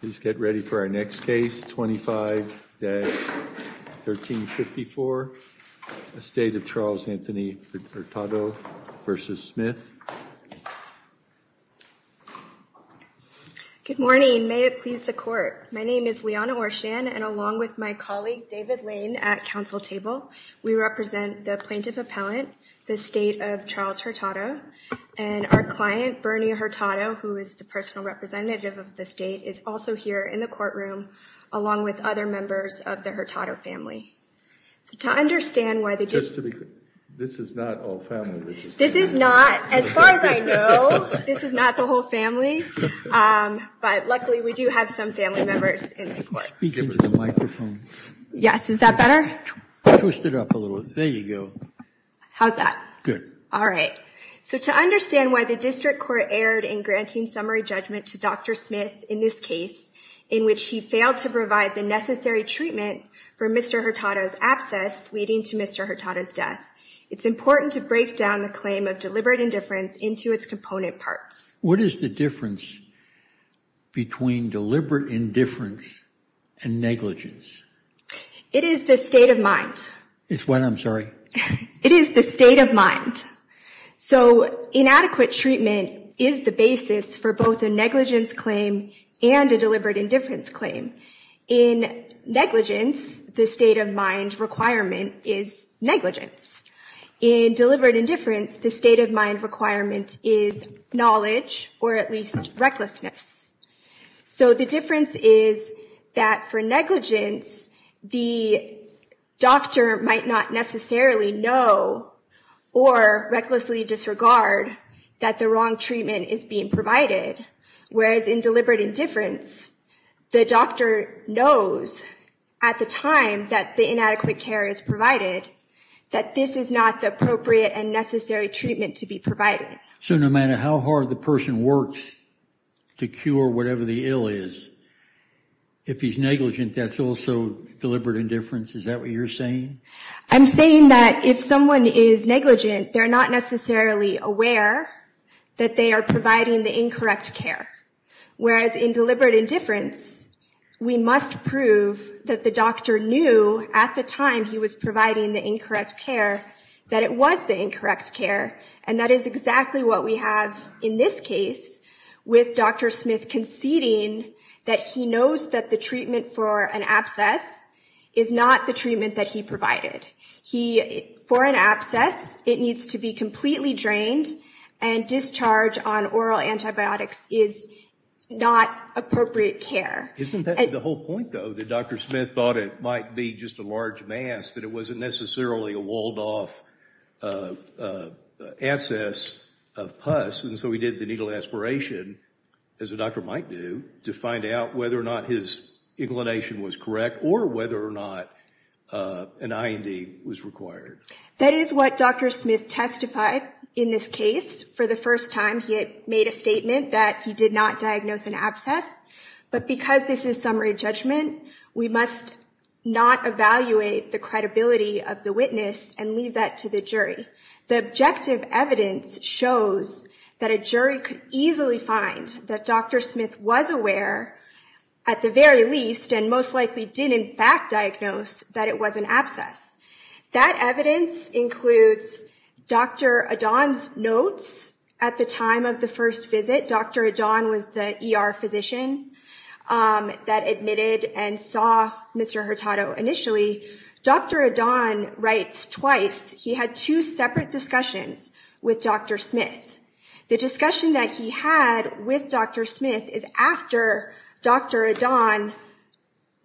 Please get ready for our next case, 25-1354, the State of Charles Anthony Hurtado v. Smith. Good morning, may it please the court. My name is Liana Orshan, and along with my colleague David Lane at council table, we represent the plaintiff appellant, the State of Charles Hurtado. And our client, Bernie Hurtado, who is the personal representative of the state, is also here in the courtroom along with other members of the Hurtado family. So to understand why they just... Just to be clear, this is not all family. This is not, as far as I know, this is not the whole family, but luckily we do have some family members in support. Speak into the microphone. Yes, is that better? Twist it up a little, there you go. How's that? Good. All right. So to understand why the district court erred in granting summary judgment to Dr. Smith in this case, in which he failed to provide the necessary treatment for Mr. Hurtado's abscess leading to Mr. Hurtado's death, it's important to break down the claim of deliberate indifference into its component parts. What is the difference between deliberate indifference and negligence? It is the state of mind. It's what, I'm sorry? It is the state of mind. So inadequate treatment is the basis for both a negligence claim and a deliberate indifference claim. In negligence, the state of mind requirement is negligence. In deliberate indifference, the state of mind requirement is knowledge or at least recklessness. So the difference is that for negligence, the doctor might not necessarily know or recklessly disregard that the wrong treatment is being provided, whereas in deliberate indifference, the doctor knows at the time that the inadequate care is provided that this is not the appropriate and necessary treatment to be provided. So no matter how hard the person works to cure whatever the ill is, if he's negligent, that's also deliberate indifference? Is that what you're saying? I'm saying that if someone is negligent, they're not necessarily aware that they are providing the incorrect care, whereas in deliberate indifference, we must prove that the doctor knew at the time he was providing the incorrect care that it was the incorrect care. And that is exactly what we have in this case with Dr. Smith conceding that he knows that the treatment for an abscess is not the treatment that he provided. For an abscess, it needs to be completely drained, and discharge on oral antibiotics is not appropriate care. Isn't that the whole point, though, that Dr. Smith thought it might be just a large mass, that it wasn't necessarily a walled-off abscess of pus, and so he did the needle aspiration, as a doctor might do, to find out whether or not his inclination was correct or whether or not an IND was required? That is what Dr. Smith testified in this case. For the first time, he had made a statement that he did not diagnose an abscess, but because this is summary judgment, we must not evaluate the credibility of the witness and leave that to the jury. The objective evidence shows that a jury could easily find that Dr. Smith was aware, at the very least, and most likely did in fact diagnose that it was an abscess. That evidence includes Dr. Adan's notes at the time of the first visit. Dr. Adan was the ER physician that admitted and saw Mr. Hurtado initially. Dr. Adan writes twice he had two separate discussions with Dr. Smith. The discussion that he had with Dr. Smith is after Dr. Adan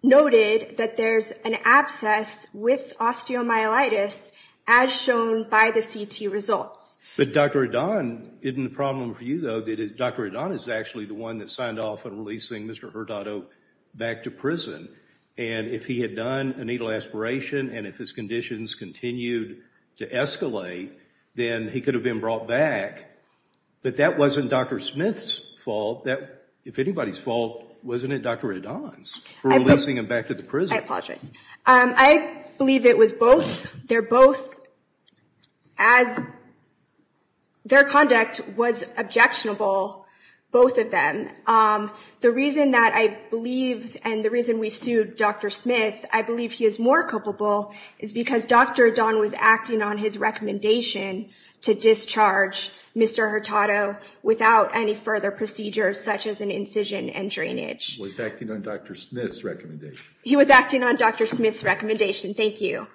noted that there's an abscess with osteomyelitis, as shown by the CT results. But Dr. Adan, isn't the problem for you, though, that Dr. Adan is actually the one that signed off on releasing Mr. Hurtado back to prison? And if he had done a needle aspiration, and if his conditions continued to escalate, then he could have been brought back. But that wasn't Dr. Smith's fault. If anybody's fault, wasn't it Dr. Adan's for releasing him back to the prison? I believe it was both. Their conduct was objectionable, both of them. The reason that I believe, and the reason we sued Dr. Smith, I believe he is more culpable, is because Dr. Adan was acting on his recommendation to discharge Mr. Hurtado without any further procedures, such as an incision and drainage. He was acting on Dr. Smith's recommendation. He was acting on Dr. Smith's recommendation, thank you.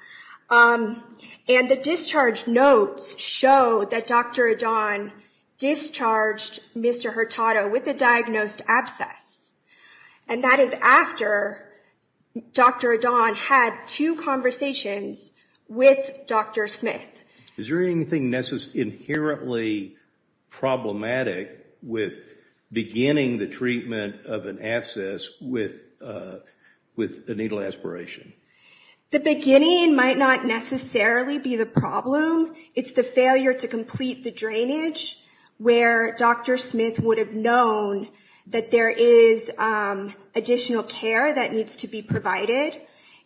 And the discharge notes show that Dr. Adan discharged Mr. Hurtado with a diagnosed abscess. And that is after Dr. Adan had two conversations with Dr. Smith. Is there anything inherently problematic with beginning the treatment of an abscess with a needle aspiration? The beginning might not necessarily be the problem. It's the failure to complete the drainage, where Dr. Smith would have known that there is additional care that needs to be provided.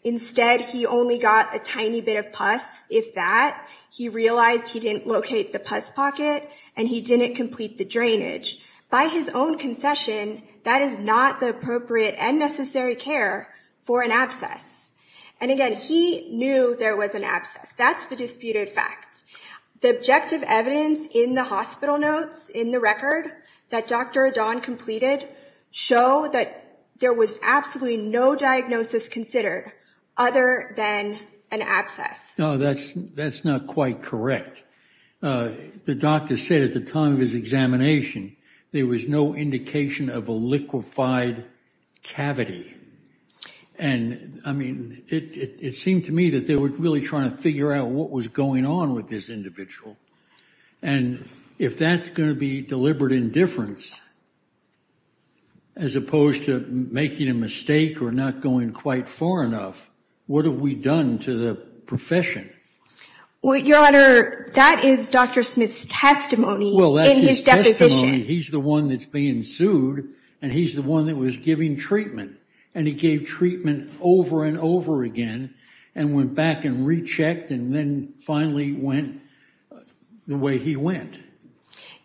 Instead, he only got a tiny bit of pus, if that. He realized he didn't locate the pus pocket, and he didn't complete the drainage. By his own concession, that is not the appropriate and necessary care for an abscess. And again, he knew there was an abscess. That's the disputed fact. The objective evidence in the hospital notes, in the record that Dr. Adan completed, show that there was absolutely no diagnosis considered other than an abscess. No, that's not quite correct. The doctor said at the time of his examination, there was no indication of a liquefied cavity. And, I mean, it seemed to me that they were really trying to figure out what was going on with this individual. And if that's going to be deliberate indifference, as opposed to making a mistake or not going quite far enough, what have we done to the profession? Your Honor, that is Dr. Smith's testimony in his deposition. Well, that's his testimony. He's the one that's being sued, and he's the one that was giving treatment. And he gave treatment over and over again, and went back and rechecked, and then finally went the way he went.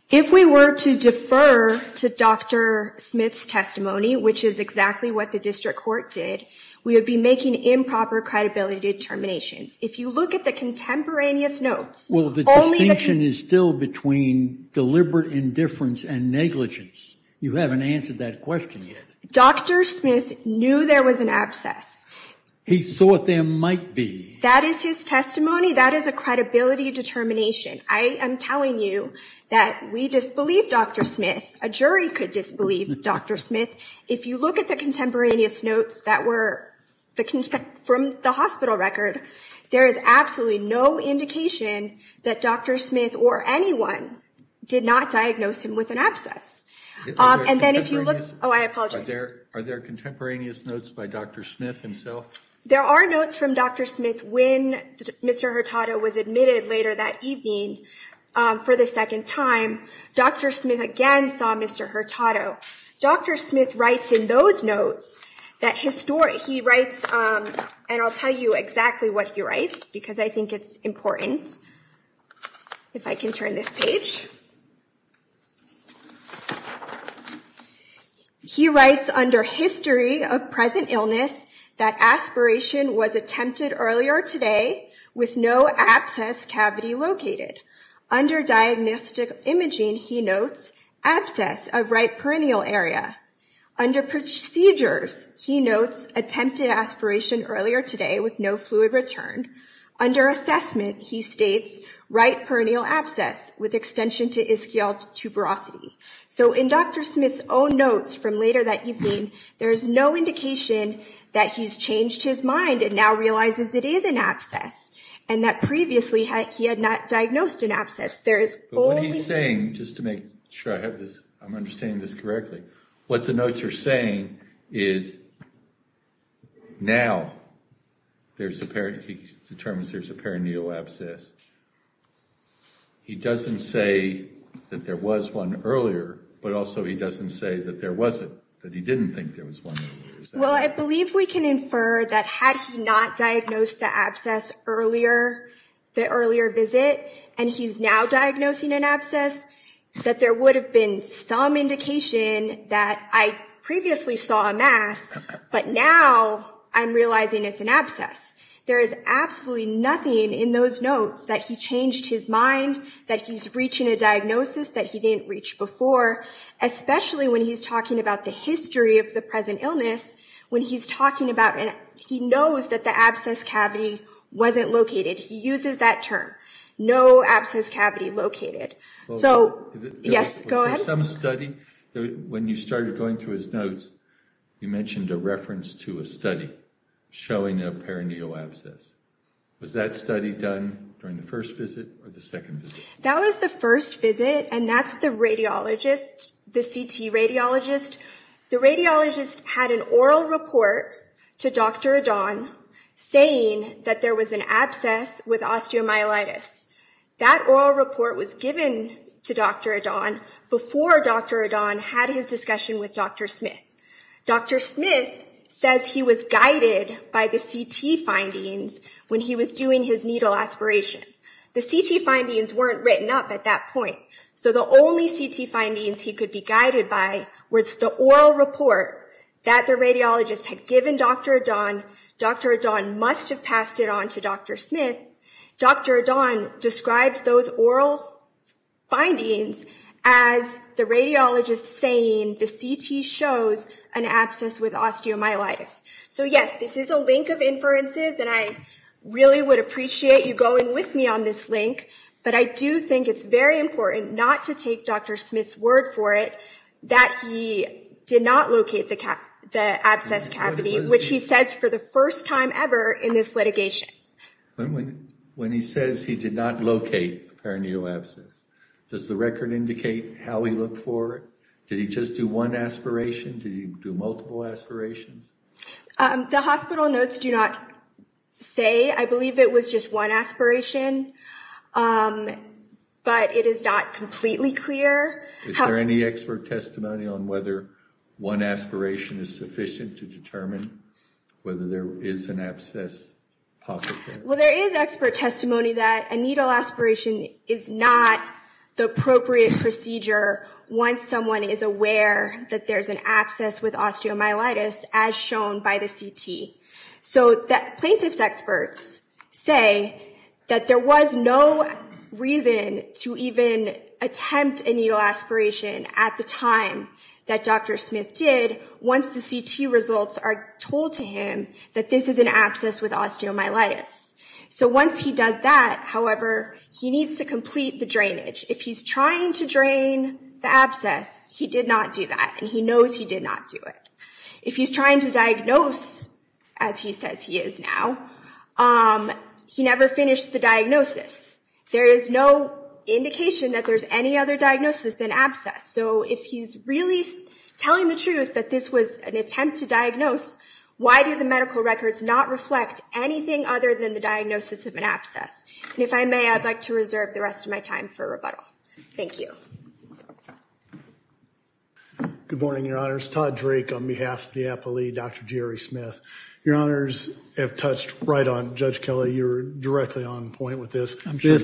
If we were to defer to Dr. Smith's testimony, which is exactly what the district court did, we would be making improper credibility determinations. If you look at the contemporaneous notes, only the- Well, the distinction is still between deliberate indifference and negligence. You haven't answered that question yet. Dr. Smith knew there was an abscess. He thought there might be. That is his testimony. That is a credibility determination. I am telling you that we disbelieve Dr. Smith. A jury could disbelieve Dr. Smith. If you look at the contemporaneous notes that were from the hospital record, there is absolutely no indication that Dr. Smith or anyone did not diagnose him with an abscess. And then if you look- Oh, I apologize. Are there contemporaneous notes by Dr. Smith himself? There are notes from Dr. Smith when Mr. Hurtado was admitted later that evening for the second time. Dr. Smith again saw Mr. Hurtado. Dr. Smith writes in those notes that his story- He writes- And I'll tell you exactly what he writes because I think it's important. If I can turn this page. He writes, under history of present illness, that aspiration was attempted earlier today with no abscess cavity located. Under diagnostic imaging, he notes abscess of right perineal area. Under procedures, he notes attempted aspiration earlier today with no fluid returned. Under assessment, he states right perineal abscess with extension to ischial tuberosity. So in Dr. Smith's own notes from later that evening, there is no indication that he's changed his mind and now realizes it is an abscess and that previously he had not diagnosed an abscess. There is only- But what he's saying, just to make sure I'm understanding this correctly, what the notes are saying is now he determines there's a perineal abscess. He doesn't say that there was one earlier, but also he doesn't say that there wasn't, that he didn't think there was one earlier. Well, I believe we can infer that had he not diagnosed the abscess earlier, the earlier visit, and he's now diagnosing an abscess, that there would have been some indication that I previously saw a mass, but now I'm realizing it's an abscess. There is absolutely nothing in those notes that he changed his mind, that he's reaching a diagnosis that he didn't reach before, especially when he's talking about the history of the present illness, when he's talking about- and he knows that the abscess cavity wasn't located. He uses that term, no abscess cavity located. So- Yes, go ahead. In some study, when you started going through his notes, you mentioned a reference to a study showing a perineal abscess. Was that study done during the first visit or the second visit? That was the first visit, and that's the radiologist, the CT radiologist. The radiologist had an oral report to Dr. Adan saying that there was an abscess with osteomyelitis. That oral report was given to Dr. Adan before Dr. Adan had his discussion with Dr. Smith. Dr. Smith says he was guided by the CT findings when he was doing his needle aspiration. The CT findings weren't written up at that point, so the only CT findings he could be guided by was the oral report that the radiologist had given Dr. Adan. Dr. Adan must have passed it on to Dr. Smith. Dr. Adan describes those oral findings as the radiologist saying the CT shows an abscess with osteomyelitis. So yes, this is a link of inferences, and I really would appreciate you going with me on this link, but I do think it's very important not to take Dr. Smith's word for it that he did not locate the abscess cavity, which he says for the first time ever in this litigation. When he says he did not locate a perineal abscess, does the record indicate how he looked for it? Did he just do one aspiration? Did he do multiple aspirations? The hospital notes do not say. I believe it was just one aspiration, but it is not completely clear. Is there any expert testimony on whether one aspiration is sufficient to determine whether there is an abscess possible? Well, there is expert testimony that a needle aspiration is not the appropriate procedure once someone is aware that there's an abscess with osteomyelitis as shown by the CT. So plaintiff's experts say that there was no reason to even attempt a needle aspiration at the time that Dr. Smith did once the CT results are told to him that this is an abscess with osteomyelitis. So once he does that, however, he needs to complete the drainage. If he's trying to drain the abscess, he did not do that, and he knows he did not do it. If he's trying to diagnose, as he says he is now, he never finished the diagnosis. There is no indication that there's any other diagnosis than abscess. So if he's really telling the truth that this was an attempt to diagnose, why do the medical records not reflect anything other than the diagnosis of an abscess? And if I may, I'd like to reserve the rest of my time for rebuttal. Thank you. Good morning, Your Honors. Todd Drake on behalf of the appellee, Dr. Jerry Smith. Your Honors have touched right on Judge Kelly. You're directly on point with this. Sure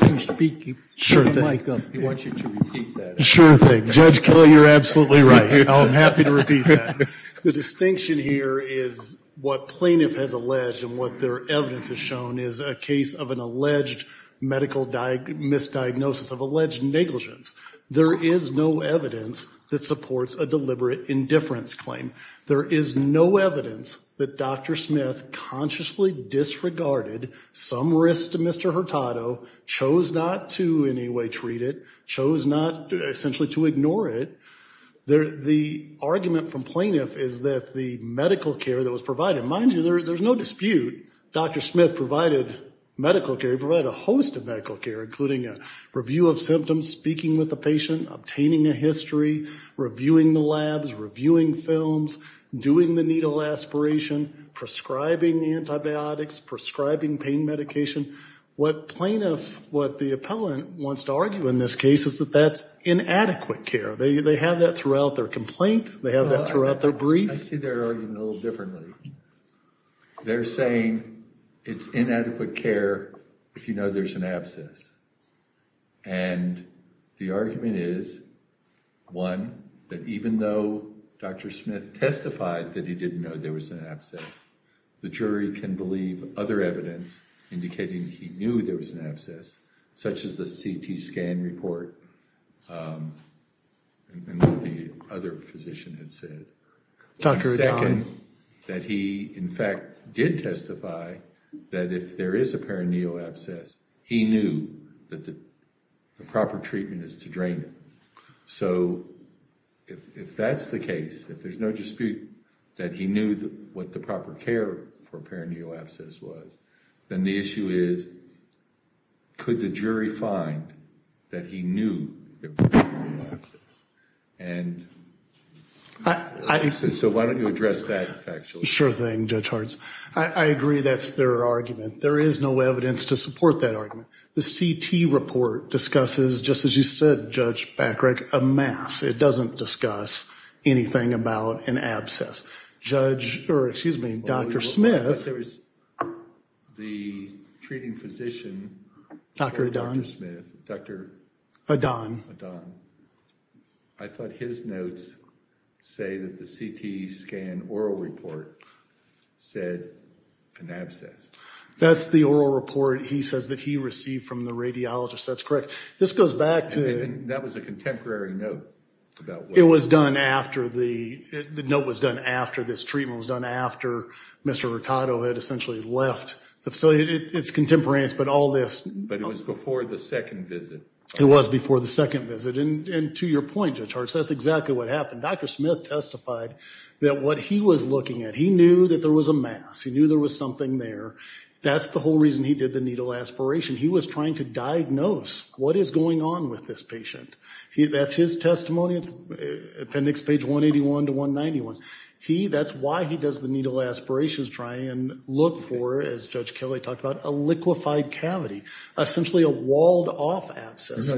thing. Judge Kelly, you're absolutely right. I'm happy to repeat that. The distinction here is what plaintiff has alleged and what their evidence has shown is a case of an alleged medical misdiagnosis of alleged negligence. There is no evidence that supports a deliberate indifference claim. There is no evidence that Dr. Smith consciously disregarded some risks to Mr. Hurtado, chose not to in any way treat it, chose not essentially to ignore it. The argument from plaintiff is that the medical care that was provided, mind you, there's no dispute Dr. Smith provided medical care. He provided a host of medical care, including a review of symptoms, speaking with the patient, obtaining a history, reviewing the labs, reviewing films, doing the needle aspiration, prescribing antibiotics, prescribing pain medication. What plaintiff, what the appellant wants to argue in this case is that that's inadequate care. They have that throughout their complaint. They have that throughout their brief. I see their argument a little differently. They're saying it's inadequate care if you know there's an abscess. And the argument is, one, that even though Dr. Smith testified that he didn't know there was an abscess, the jury can believe other evidence indicating he knew there was an abscess, such as the CT scan report and what the other physician had said. Second, that he, in fact, did testify that if there is a perineal abscess, he knew that the proper treatment is to drain it. So if that's the case, if there's no dispute that he knew what the proper care for perineal abscess was, then the issue is, could the jury find that he knew there was a perineal abscess? And so why don't you address that factually? Sure thing, Judge Hartz. I agree that's their argument. There is no evidence to support that argument. The CT report discusses, just as you said, Judge Packrich, a mass. It doesn't discuss anything about an abscess. Judge, or excuse me, Dr. Smith. There was the treating physician. Dr. Adan. Dr. Smith. Dr. Adan. Adan. I thought his notes say that the CT scan oral report said an abscess. That's the oral report he says that he received from the radiologist. That's correct. This goes back to. And that was a contemporary note about what. It was done after the, the note was done after this treatment was done, after Mr. Rotato had essentially left the facility. It's contemporaneous, but all this. But it was before the second visit. It was before the second visit. And to your point, Judge Hartz, that's exactly what happened. Dr. Smith testified that what he was looking at. He knew that there was a mass. He knew there was something there. That's the whole reason he did the needle aspiration. He was trying to diagnose what is going on with this patient. That's his testimony. It's appendix page 181 to 191. He, that's why he does the needle aspirations, trying and look for, as Judge Kelly talked about, a liquefied cavity. Essentially a walled off abscess.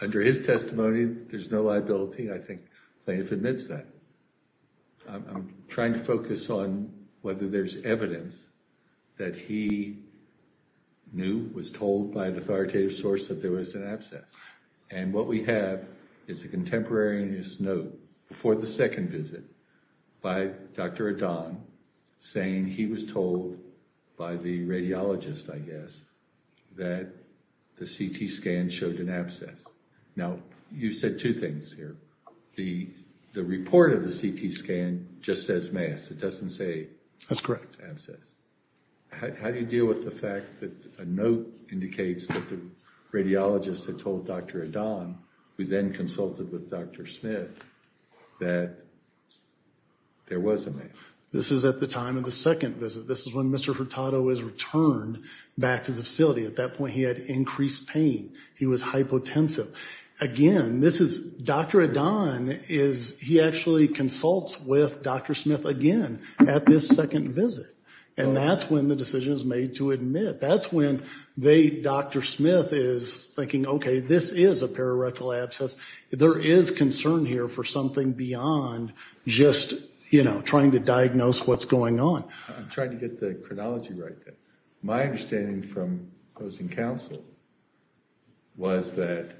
Under his testimony, there's no liability. I think plaintiff admits that. I'm trying to focus on whether there's evidence that he knew, was told by an authoritative source that there was an abscess. And what we have is a contemporaneous note before the second visit by Dr. Adan saying he was told by the radiologist, I guess, that the CT scan showed an abscess. Now, you said two things here. The report of the CT scan just says mass. It doesn't say abscess. How do you deal with the fact that a note indicates that the radiologist had told Dr. Adan, who then consulted with Dr. Smith, that there was a mass? This is at the time of the second visit. This is when Mr. Furtado is returned back to the facility. At that point, he had increased pain. He was hypotensive. Again, this is Dr. Adan is, he actually consults with Dr. Smith again at this second visit. And that's when the decision is made to admit. That's when they, Dr. Smith, is thinking, okay, this is a pararechal abscess. There is concern here for something beyond just, you know, trying to diagnose what's going on. I'm trying to get the chronology right there. My understanding from those in counsel was that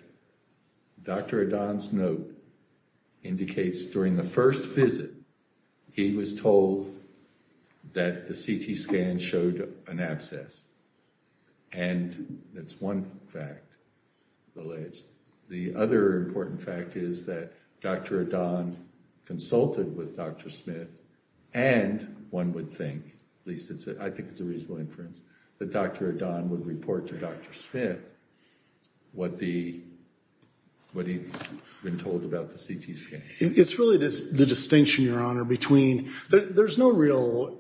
Dr. Adan's note indicates during the first visit he was told that the CT scan showed an abscess. And that's one fact. The other important fact is that Dr. Adan consulted with Dr. Smith and one would think, at least I think it's a reasonable inference, that Dr. Adan would report to Dr. Smith what he'd been told about the CT scan. It's really the distinction, Your Honor, between, there's no real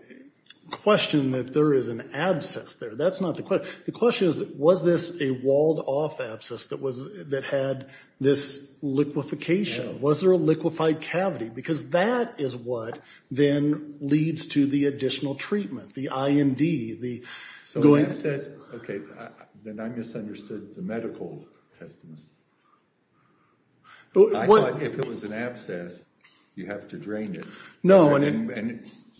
question that there is an abscess there. That's not the question. The question is, was this a walled-off abscess that had this liquefaction? Was there a liquefied cavity? Because that is what then leads to the additional treatment, the IND. So the abscess, okay, then I misunderstood the medical testimony. I thought if it was an abscess, you have to drain it. No.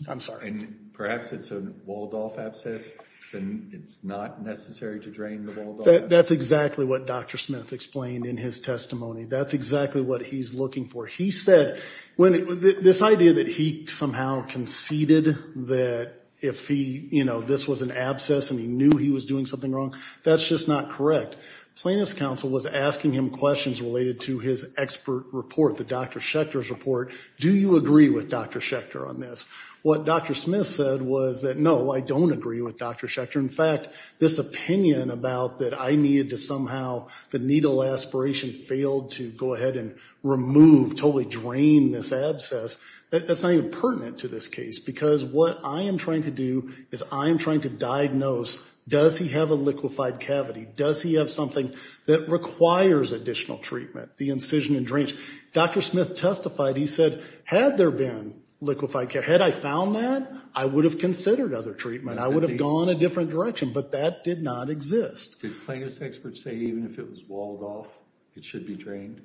I'm sorry. And perhaps it's a walled-off abscess, then it's not necessary to drain the walled-off? That's exactly what Dr. Smith explained in his testimony. That's exactly what he's looking for. He said this idea that he somehow conceded that if this was an abscess and he knew he was doing something wrong, that's just not correct. Plaintiff's counsel was asking him questions related to his expert report, the Dr. Schechter's report. Do you agree with Dr. Schechter on this? What Dr. Smith said was that, no, I don't agree with Dr. Schechter. In fact, this opinion about that I needed to somehow, the needle aspiration failed to go ahead and remove, totally drain this abscess, that's not even pertinent to this case. Because what I am trying to do is I am trying to diagnose, does he have a liquefied cavity? Does he have something that requires additional treatment, the incision and drainage? Dr. Smith testified, he said, had there been liquefied cavity, had I found that, I would have considered other treatment. I would have gone a different direction. But that did not exist. Did plaintiff's experts say even if it was walled-off, it should be drained?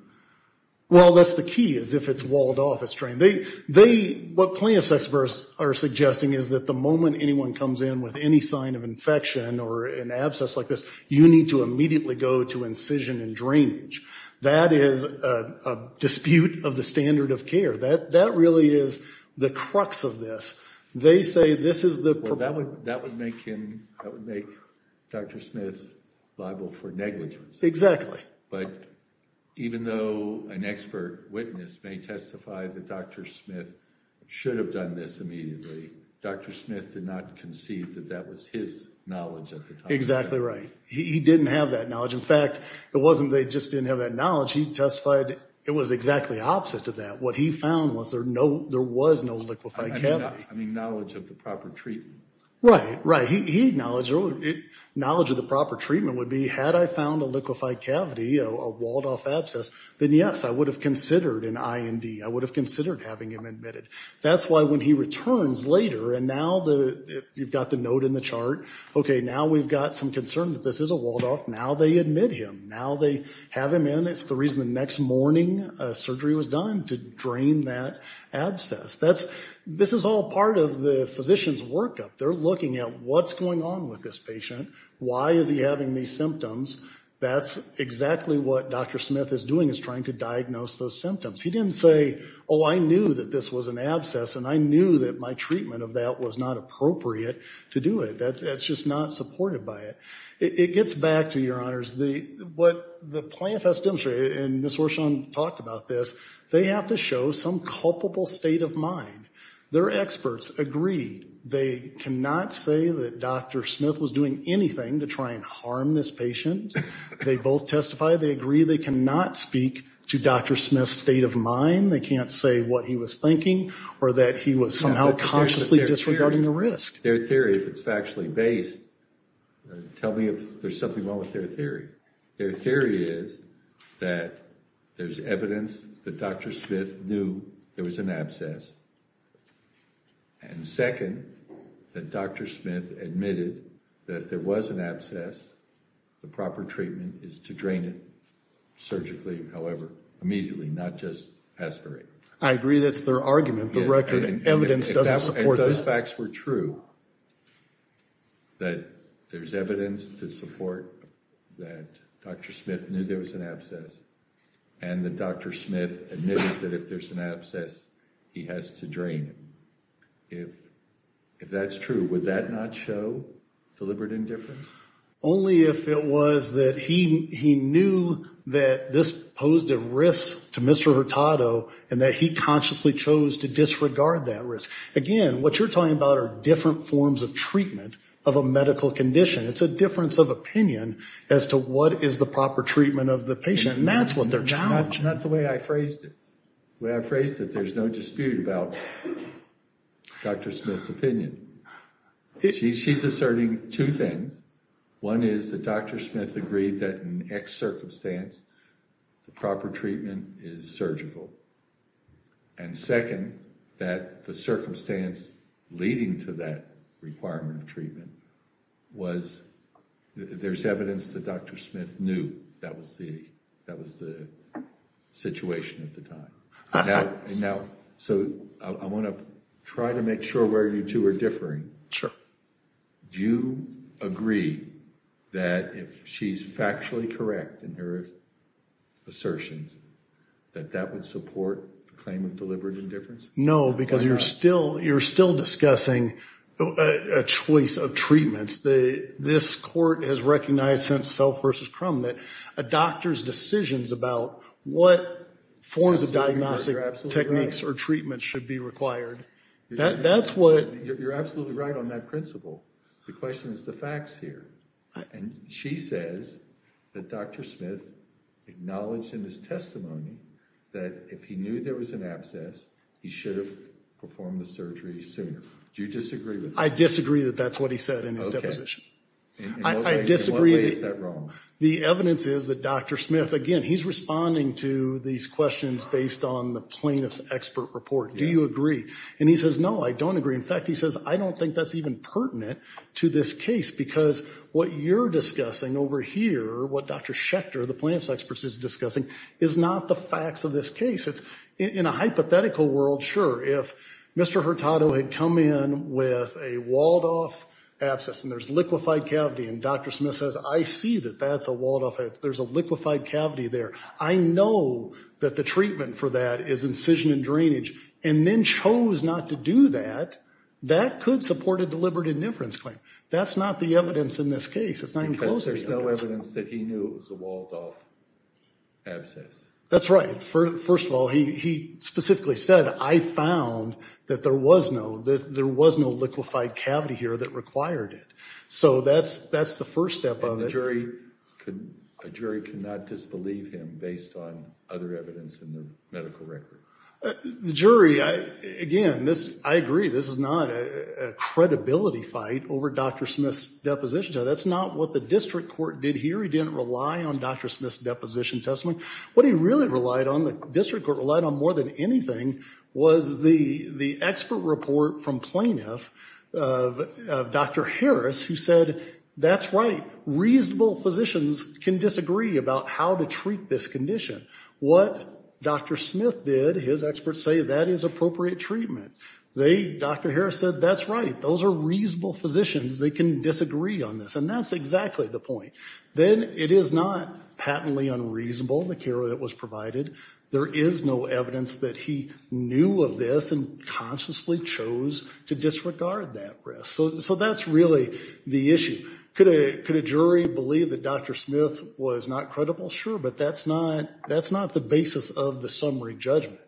Well, that's the key, is if it's walled-off, it's drained. What plaintiff's experts are suggesting is that the moment anyone comes in with any sign of infection or an abscess like this, you need to immediately go to incision and drainage. That is a dispute of the standard of care. That really is the crux of this. They say this is the problem. Well, that would make him, that would make Dr. Smith liable for negligence. Exactly. But even though an expert witness may testify that Dr. Smith should have done this immediately, Dr. Smith did not concede that that was his knowledge at the time. Exactly right. He didn't have that knowledge. In fact, it wasn't they just didn't have that knowledge. He testified it was exactly opposite to that. What he found was there was no liquefied cavity. I mean knowledge of the proper treatment. Right, right. His knowledge of the proper treatment would be, had I found a liquefied cavity, a walled-off abscess, then yes, I would have considered an IND. I would have considered having him admitted. That's why when he returns later and now you've got the note in the chart, okay, now we've got some concern that this is a walled-off. Now they admit him. Now they have him in. It's the reason the next morning a surgery was done to drain that abscess. This is all part of the physician's workup. They're looking at what's going on with this patient. Why is he having these symptoms? That's exactly what Dr. Smith is doing is trying to diagnose those symptoms. He didn't say, oh, I knew that this was an abscess and I knew that my treatment of that was not appropriate to do it. That's just not supported by it. It gets back to, Your Honors, what the plan has demonstrated, and Ms. Horshon talked about this, they have to show some culpable state of mind. Their experts agree. They cannot say that Dr. Smith was doing anything to try and harm this patient. They both testify. They agree they cannot speak to Dr. Smith's state of mind. They can't say what he was thinking or that he was somehow consciously disregarding the risk. Their theory, if it's factually based, tell me if there's something wrong with their theory. Their theory is that there's evidence that Dr. Smith knew there was an abscess, and second, that Dr. Smith admitted that if there was an abscess, the proper treatment is to drain it surgically, however, immediately, not just aspirate. I agree that's their argument. The record evidence doesn't support that. If those facts were true, that there's evidence to support that Dr. Smith knew there was an abscess and that Dr. Smith admitted that if there's an abscess, he has to drain it, if that's true, would that not show deliberate indifference? Only if it was that he knew that this posed a risk to Mr. Hurtado and that he consciously chose to disregard that risk. Again, what you're talking about are different forms of treatment of a medical condition. It's a difference of opinion as to what is the proper treatment of the patient, and that's what they're challenging. Not the way I phrased it. The way I phrased it, there's no dispute about Dr. Smith's opinion. She's asserting two things. One is that Dr. Smith agreed that in X circumstance, the proper treatment is surgical, and second, that the circumstance leading to that requirement of treatment was there's evidence that Dr. Smith knew that was the situation at the time. Now, so I want to try to make sure where you two are differing. Sure. Do you agree that if she's factually correct in her assertions, that that would support the claim of deliberate indifference? No, because you're still discussing a choice of treatments. This court has recognized since Self v. Crum that a doctor's decisions about what forms of diagnostic techniques or treatments should be required. You're absolutely right on that principle. The question is the facts here, and she says that Dr. Smith acknowledged in his testimony that if he knew there was an abscess, he should have performed the surgery sooner. Do you disagree with that? I disagree that that's what he said in his deposition. Okay. In what way is that wrong? The evidence is that Dr. Smith, again, he's responding to these questions based on the plaintiff's expert report. Do you agree? And he says, no, I don't agree. In fact, he says, I don't think that's even pertinent to this case because what you're discussing over here, what Dr. Schechter, the plaintiff's expert is discussing, is not the facts of this case. In a hypothetical world, sure, if Mr. Hurtado had come in with a walled-off abscess and there's liquefied cavity and Dr. Smith says, I see that that's a walled-off abscess, there's a liquefied cavity there, I know that the treatment for that is incision and drainage, and then chose not to do that, that could support a deliberate indifference claim. That's not the evidence in this case. It's not even close to the evidence. Because there's no evidence that he knew it was a walled-off abscess. That's right. First of all, he specifically said, I found that there was no liquefied cavity here that required it. So that's the first step of it. And the jury could not disbelieve him based on other evidence in the medical record? The jury, again, I agree, this is not a credibility fight over Dr. Smith's deposition. That's not what the district court did here. He didn't rely on Dr. Smith's deposition testimony. What he really relied on, the district court relied on more than anything, was the expert report from plaintiff of Dr. Harris who said, that's right, reasonable physicians can disagree about how to treat this condition. What Dr. Smith did, his experts say that is appropriate treatment. Dr. Harris said, that's right, those are reasonable physicians, they can disagree on this. And that's exactly the point. Then it is not patently unreasonable, the care that was provided. There is no evidence that he knew of this and consciously chose to disregard that risk. So that's really the issue. Could a jury believe that Dr. Smith was not credible? Sure, but that's not the basis of the summary judgment.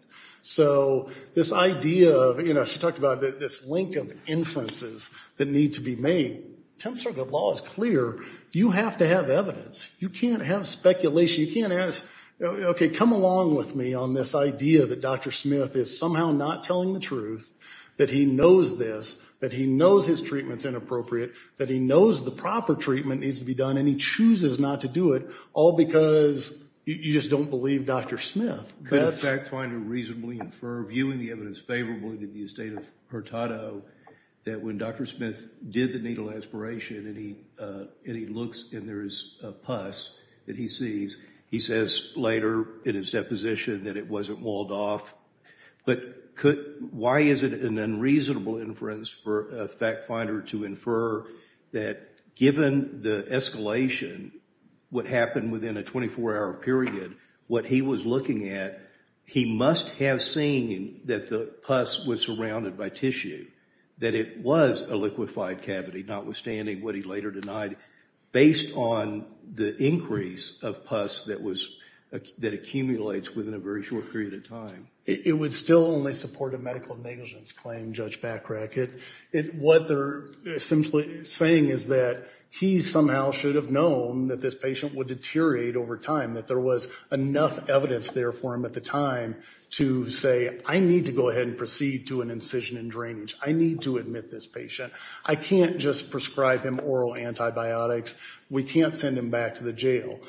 So this idea of, you know, she talked about this link of inferences that need to be made. Tenth Circuit law is clear. You have to have evidence. You can't have speculation. You can't ask, okay, come along with me on this idea that Dr. Smith is somehow not telling the truth, that he knows this, that he knows his treatment is inappropriate, that he knows the proper treatment needs to be done, and he chooses not to do it all because you just don't believe Dr. Smith. In fact, trying to reasonably infer, favorably in the state of Hurtado, that when Dr. Smith did the needle aspiration and he looks and there is pus that he sees, he says later in his deposition that it wasn't walled off. But why is it an unreasonable inference for a fact finder to infer that, given the escalation, what happened within a 24-hour period, what he was looking at, he must have seen that the pus was surrounded by tissue, that it was a liquefied cavity, notwithstanding what he later denied, based on the increase of pus that accumulates within a very short period of time? It would still only support a medical negligence claim, Judge Bachrach. What they're essentially saying is that he somehow should have known that this patient would deteriorate over time, that there was enough evidence there for him at the time to say, I need to go ahead and proceed to an incision and drainage. I need to admit this patient. I can't just prescribe him oral antibiotics. We can't send him back to the jail.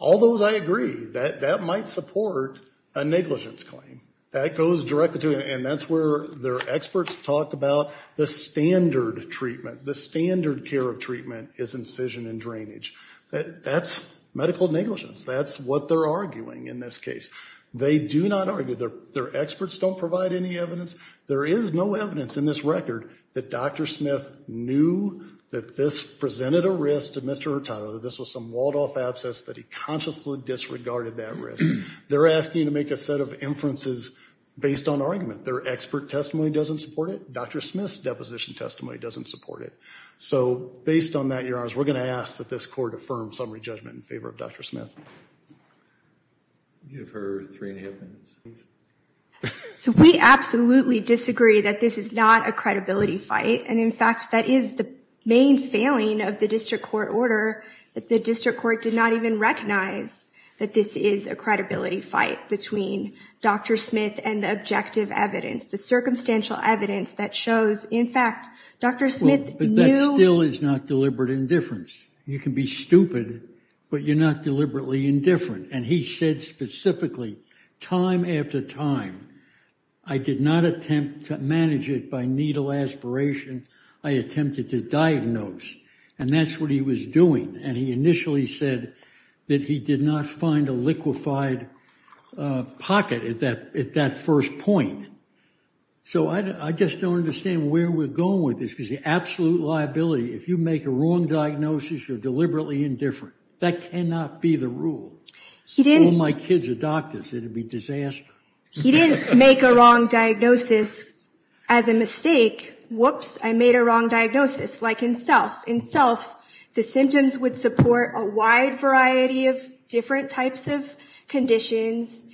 All those I agree. That might support a negligence claim. That goes directly to it, and that's where their experts talk about the standard treatment. The standard care of treatment is incision and drainage. That's medical negligence. That's what they're arguing in this case. They do not argue. Their experts don't provide any evidence. There is no evidence in this record that Dr. Smith knew that this presented a risk to Mr. Hurtado, that this was some walled-off abscess, that he consciously disregarded that risk. They're asking him to make a set of inferences based on argument. Their expert testimony doesn't support it. Dr. Smith's deposition testimony doesn't support it. Based on that, Your Honors, we're going to ask that this court affirm summary judgment in favor of Dr. Smith. You have three and a half minutes. We absolutely disagree that this is not a credibility fight. In fact, that is the main failing of the district court order, that the district court did not even recognize that this is a credibility fight between Dr. Smith and the objective evidence, the circumstantial evidence that shows, in fact, Dr. Smith knew. But that still is not deliberate indifference. You can be stupid, but you're not deliberately indifferent. And he said specifically, time after time, I did not attempt to manage it by needle aspiration. I attempted to diagnose. And that's what he was doing. And he initially said that he did not find a liquefied pocket at that first point. So I just don't understand where we're going with this, because the absolute liability, if you make a wrong diagnosis, you're deliberately indifferent. That cannot be the rule. If all my kids are doctors, it would be disaster. He didn't make a wrong diagnosis as a mistake. Whoops, I made a wrong diagnosis. Like in SELF. In SELF, the symptoms would support a wide variety of different types of conditions.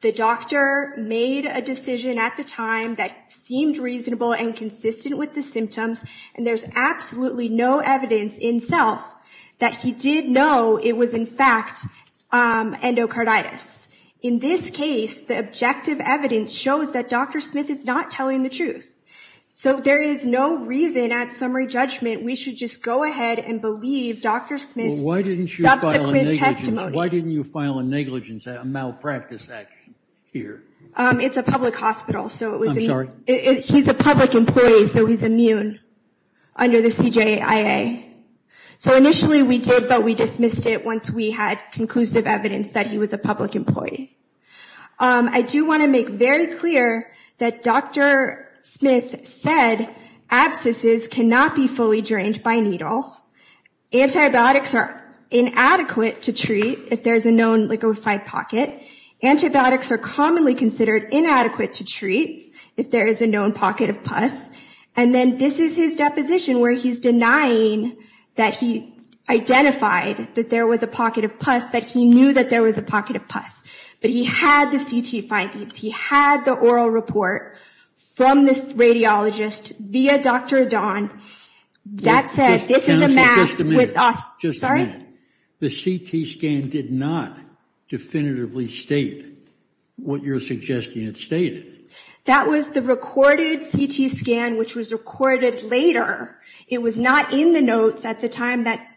The doctor made a decision at the time that seemed reasonable and consistent with the symptoms, and there's absolutely no evidence in SELF that he did know it was, in fact, endocarditis. In this case, the objective evidence shows that Dr. Smith is not telling the truth. So there is no reason at summary judgment we should just go ahead and believe Dr. Smith's subsequent testimony. Well, why didn't you file a negligence, a malpractice action here? It's a public hospital. I'm sorry? He's a public employee, so he's immune under the CJIA. So initially we did, but we dismissed it once we had conclusive evidence that he was a public employee. I do want to make very clear that Dr. Smith said abscesses cannot be fully drained by needle. Antibiotics are inadequate to treat if there's a known liquefied pocket. Antibiotics are commonly considered inadequate to treat if there is a known pocket of pus. And then this is his deposition where he's denying that he identified that there was a pocket of pus, that he knew that there was a pocket of pus. But he had the CT findings. He had the oral report from this radiologist via Dr. Adon. That said, this is a map. Just a minute. The CT scan did not definitively state what you're suggesting it stated. That was the recorded CT scan, which was recorded later. It was not in the notes at the time that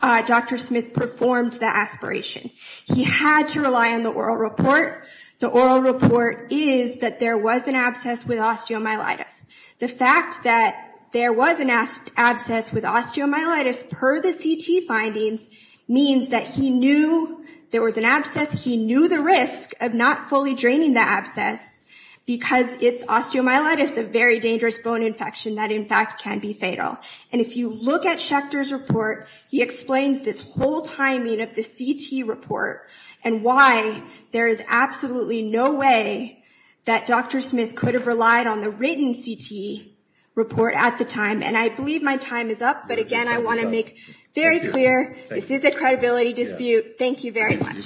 Dr. Smith performed the aspiration. He had to rely on the oral report. The oral report is that there was an abscess with osteomyelitis. The fact that there was an abscess with osteomyelitis per the CT findings means that he knew there was an abscess. He knew the risk of not fully draining the abscess because it's osteomyelitis, a very dangerous bone infection that, in fact, can be fatal. And if you look at Schechter's report, he explains this whole timing of the CT report and why there is absolutely no way that Dr. Smith could have relied on the written CT report at the time. And I believe my time is up. But, again, I want to make very clear this is a credibility dispute. Thank you very much.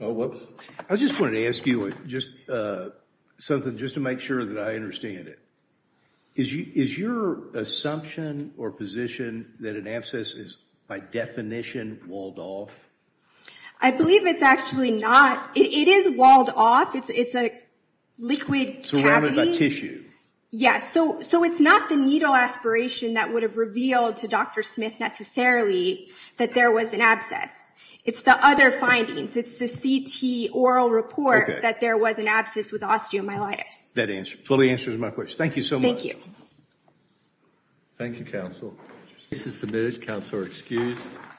I just wanted to ask you something just to make sure that I understand it. Is your assumption or position that an abscess is, by definition, walled off? I believe it's actually not. It is walled off. It's a liquid cavity. It's surrounded by tissue. Yes. So it's not the needle aspiration that would have revealed to Dr. Smith necessarily that there was an abscess. It's the other findings. It's the CT oral report that there was an abscess with osteomyelitis. That fully answers my question. Thank you so much. Thank you, counsel. This is submitted. Counsel are excused.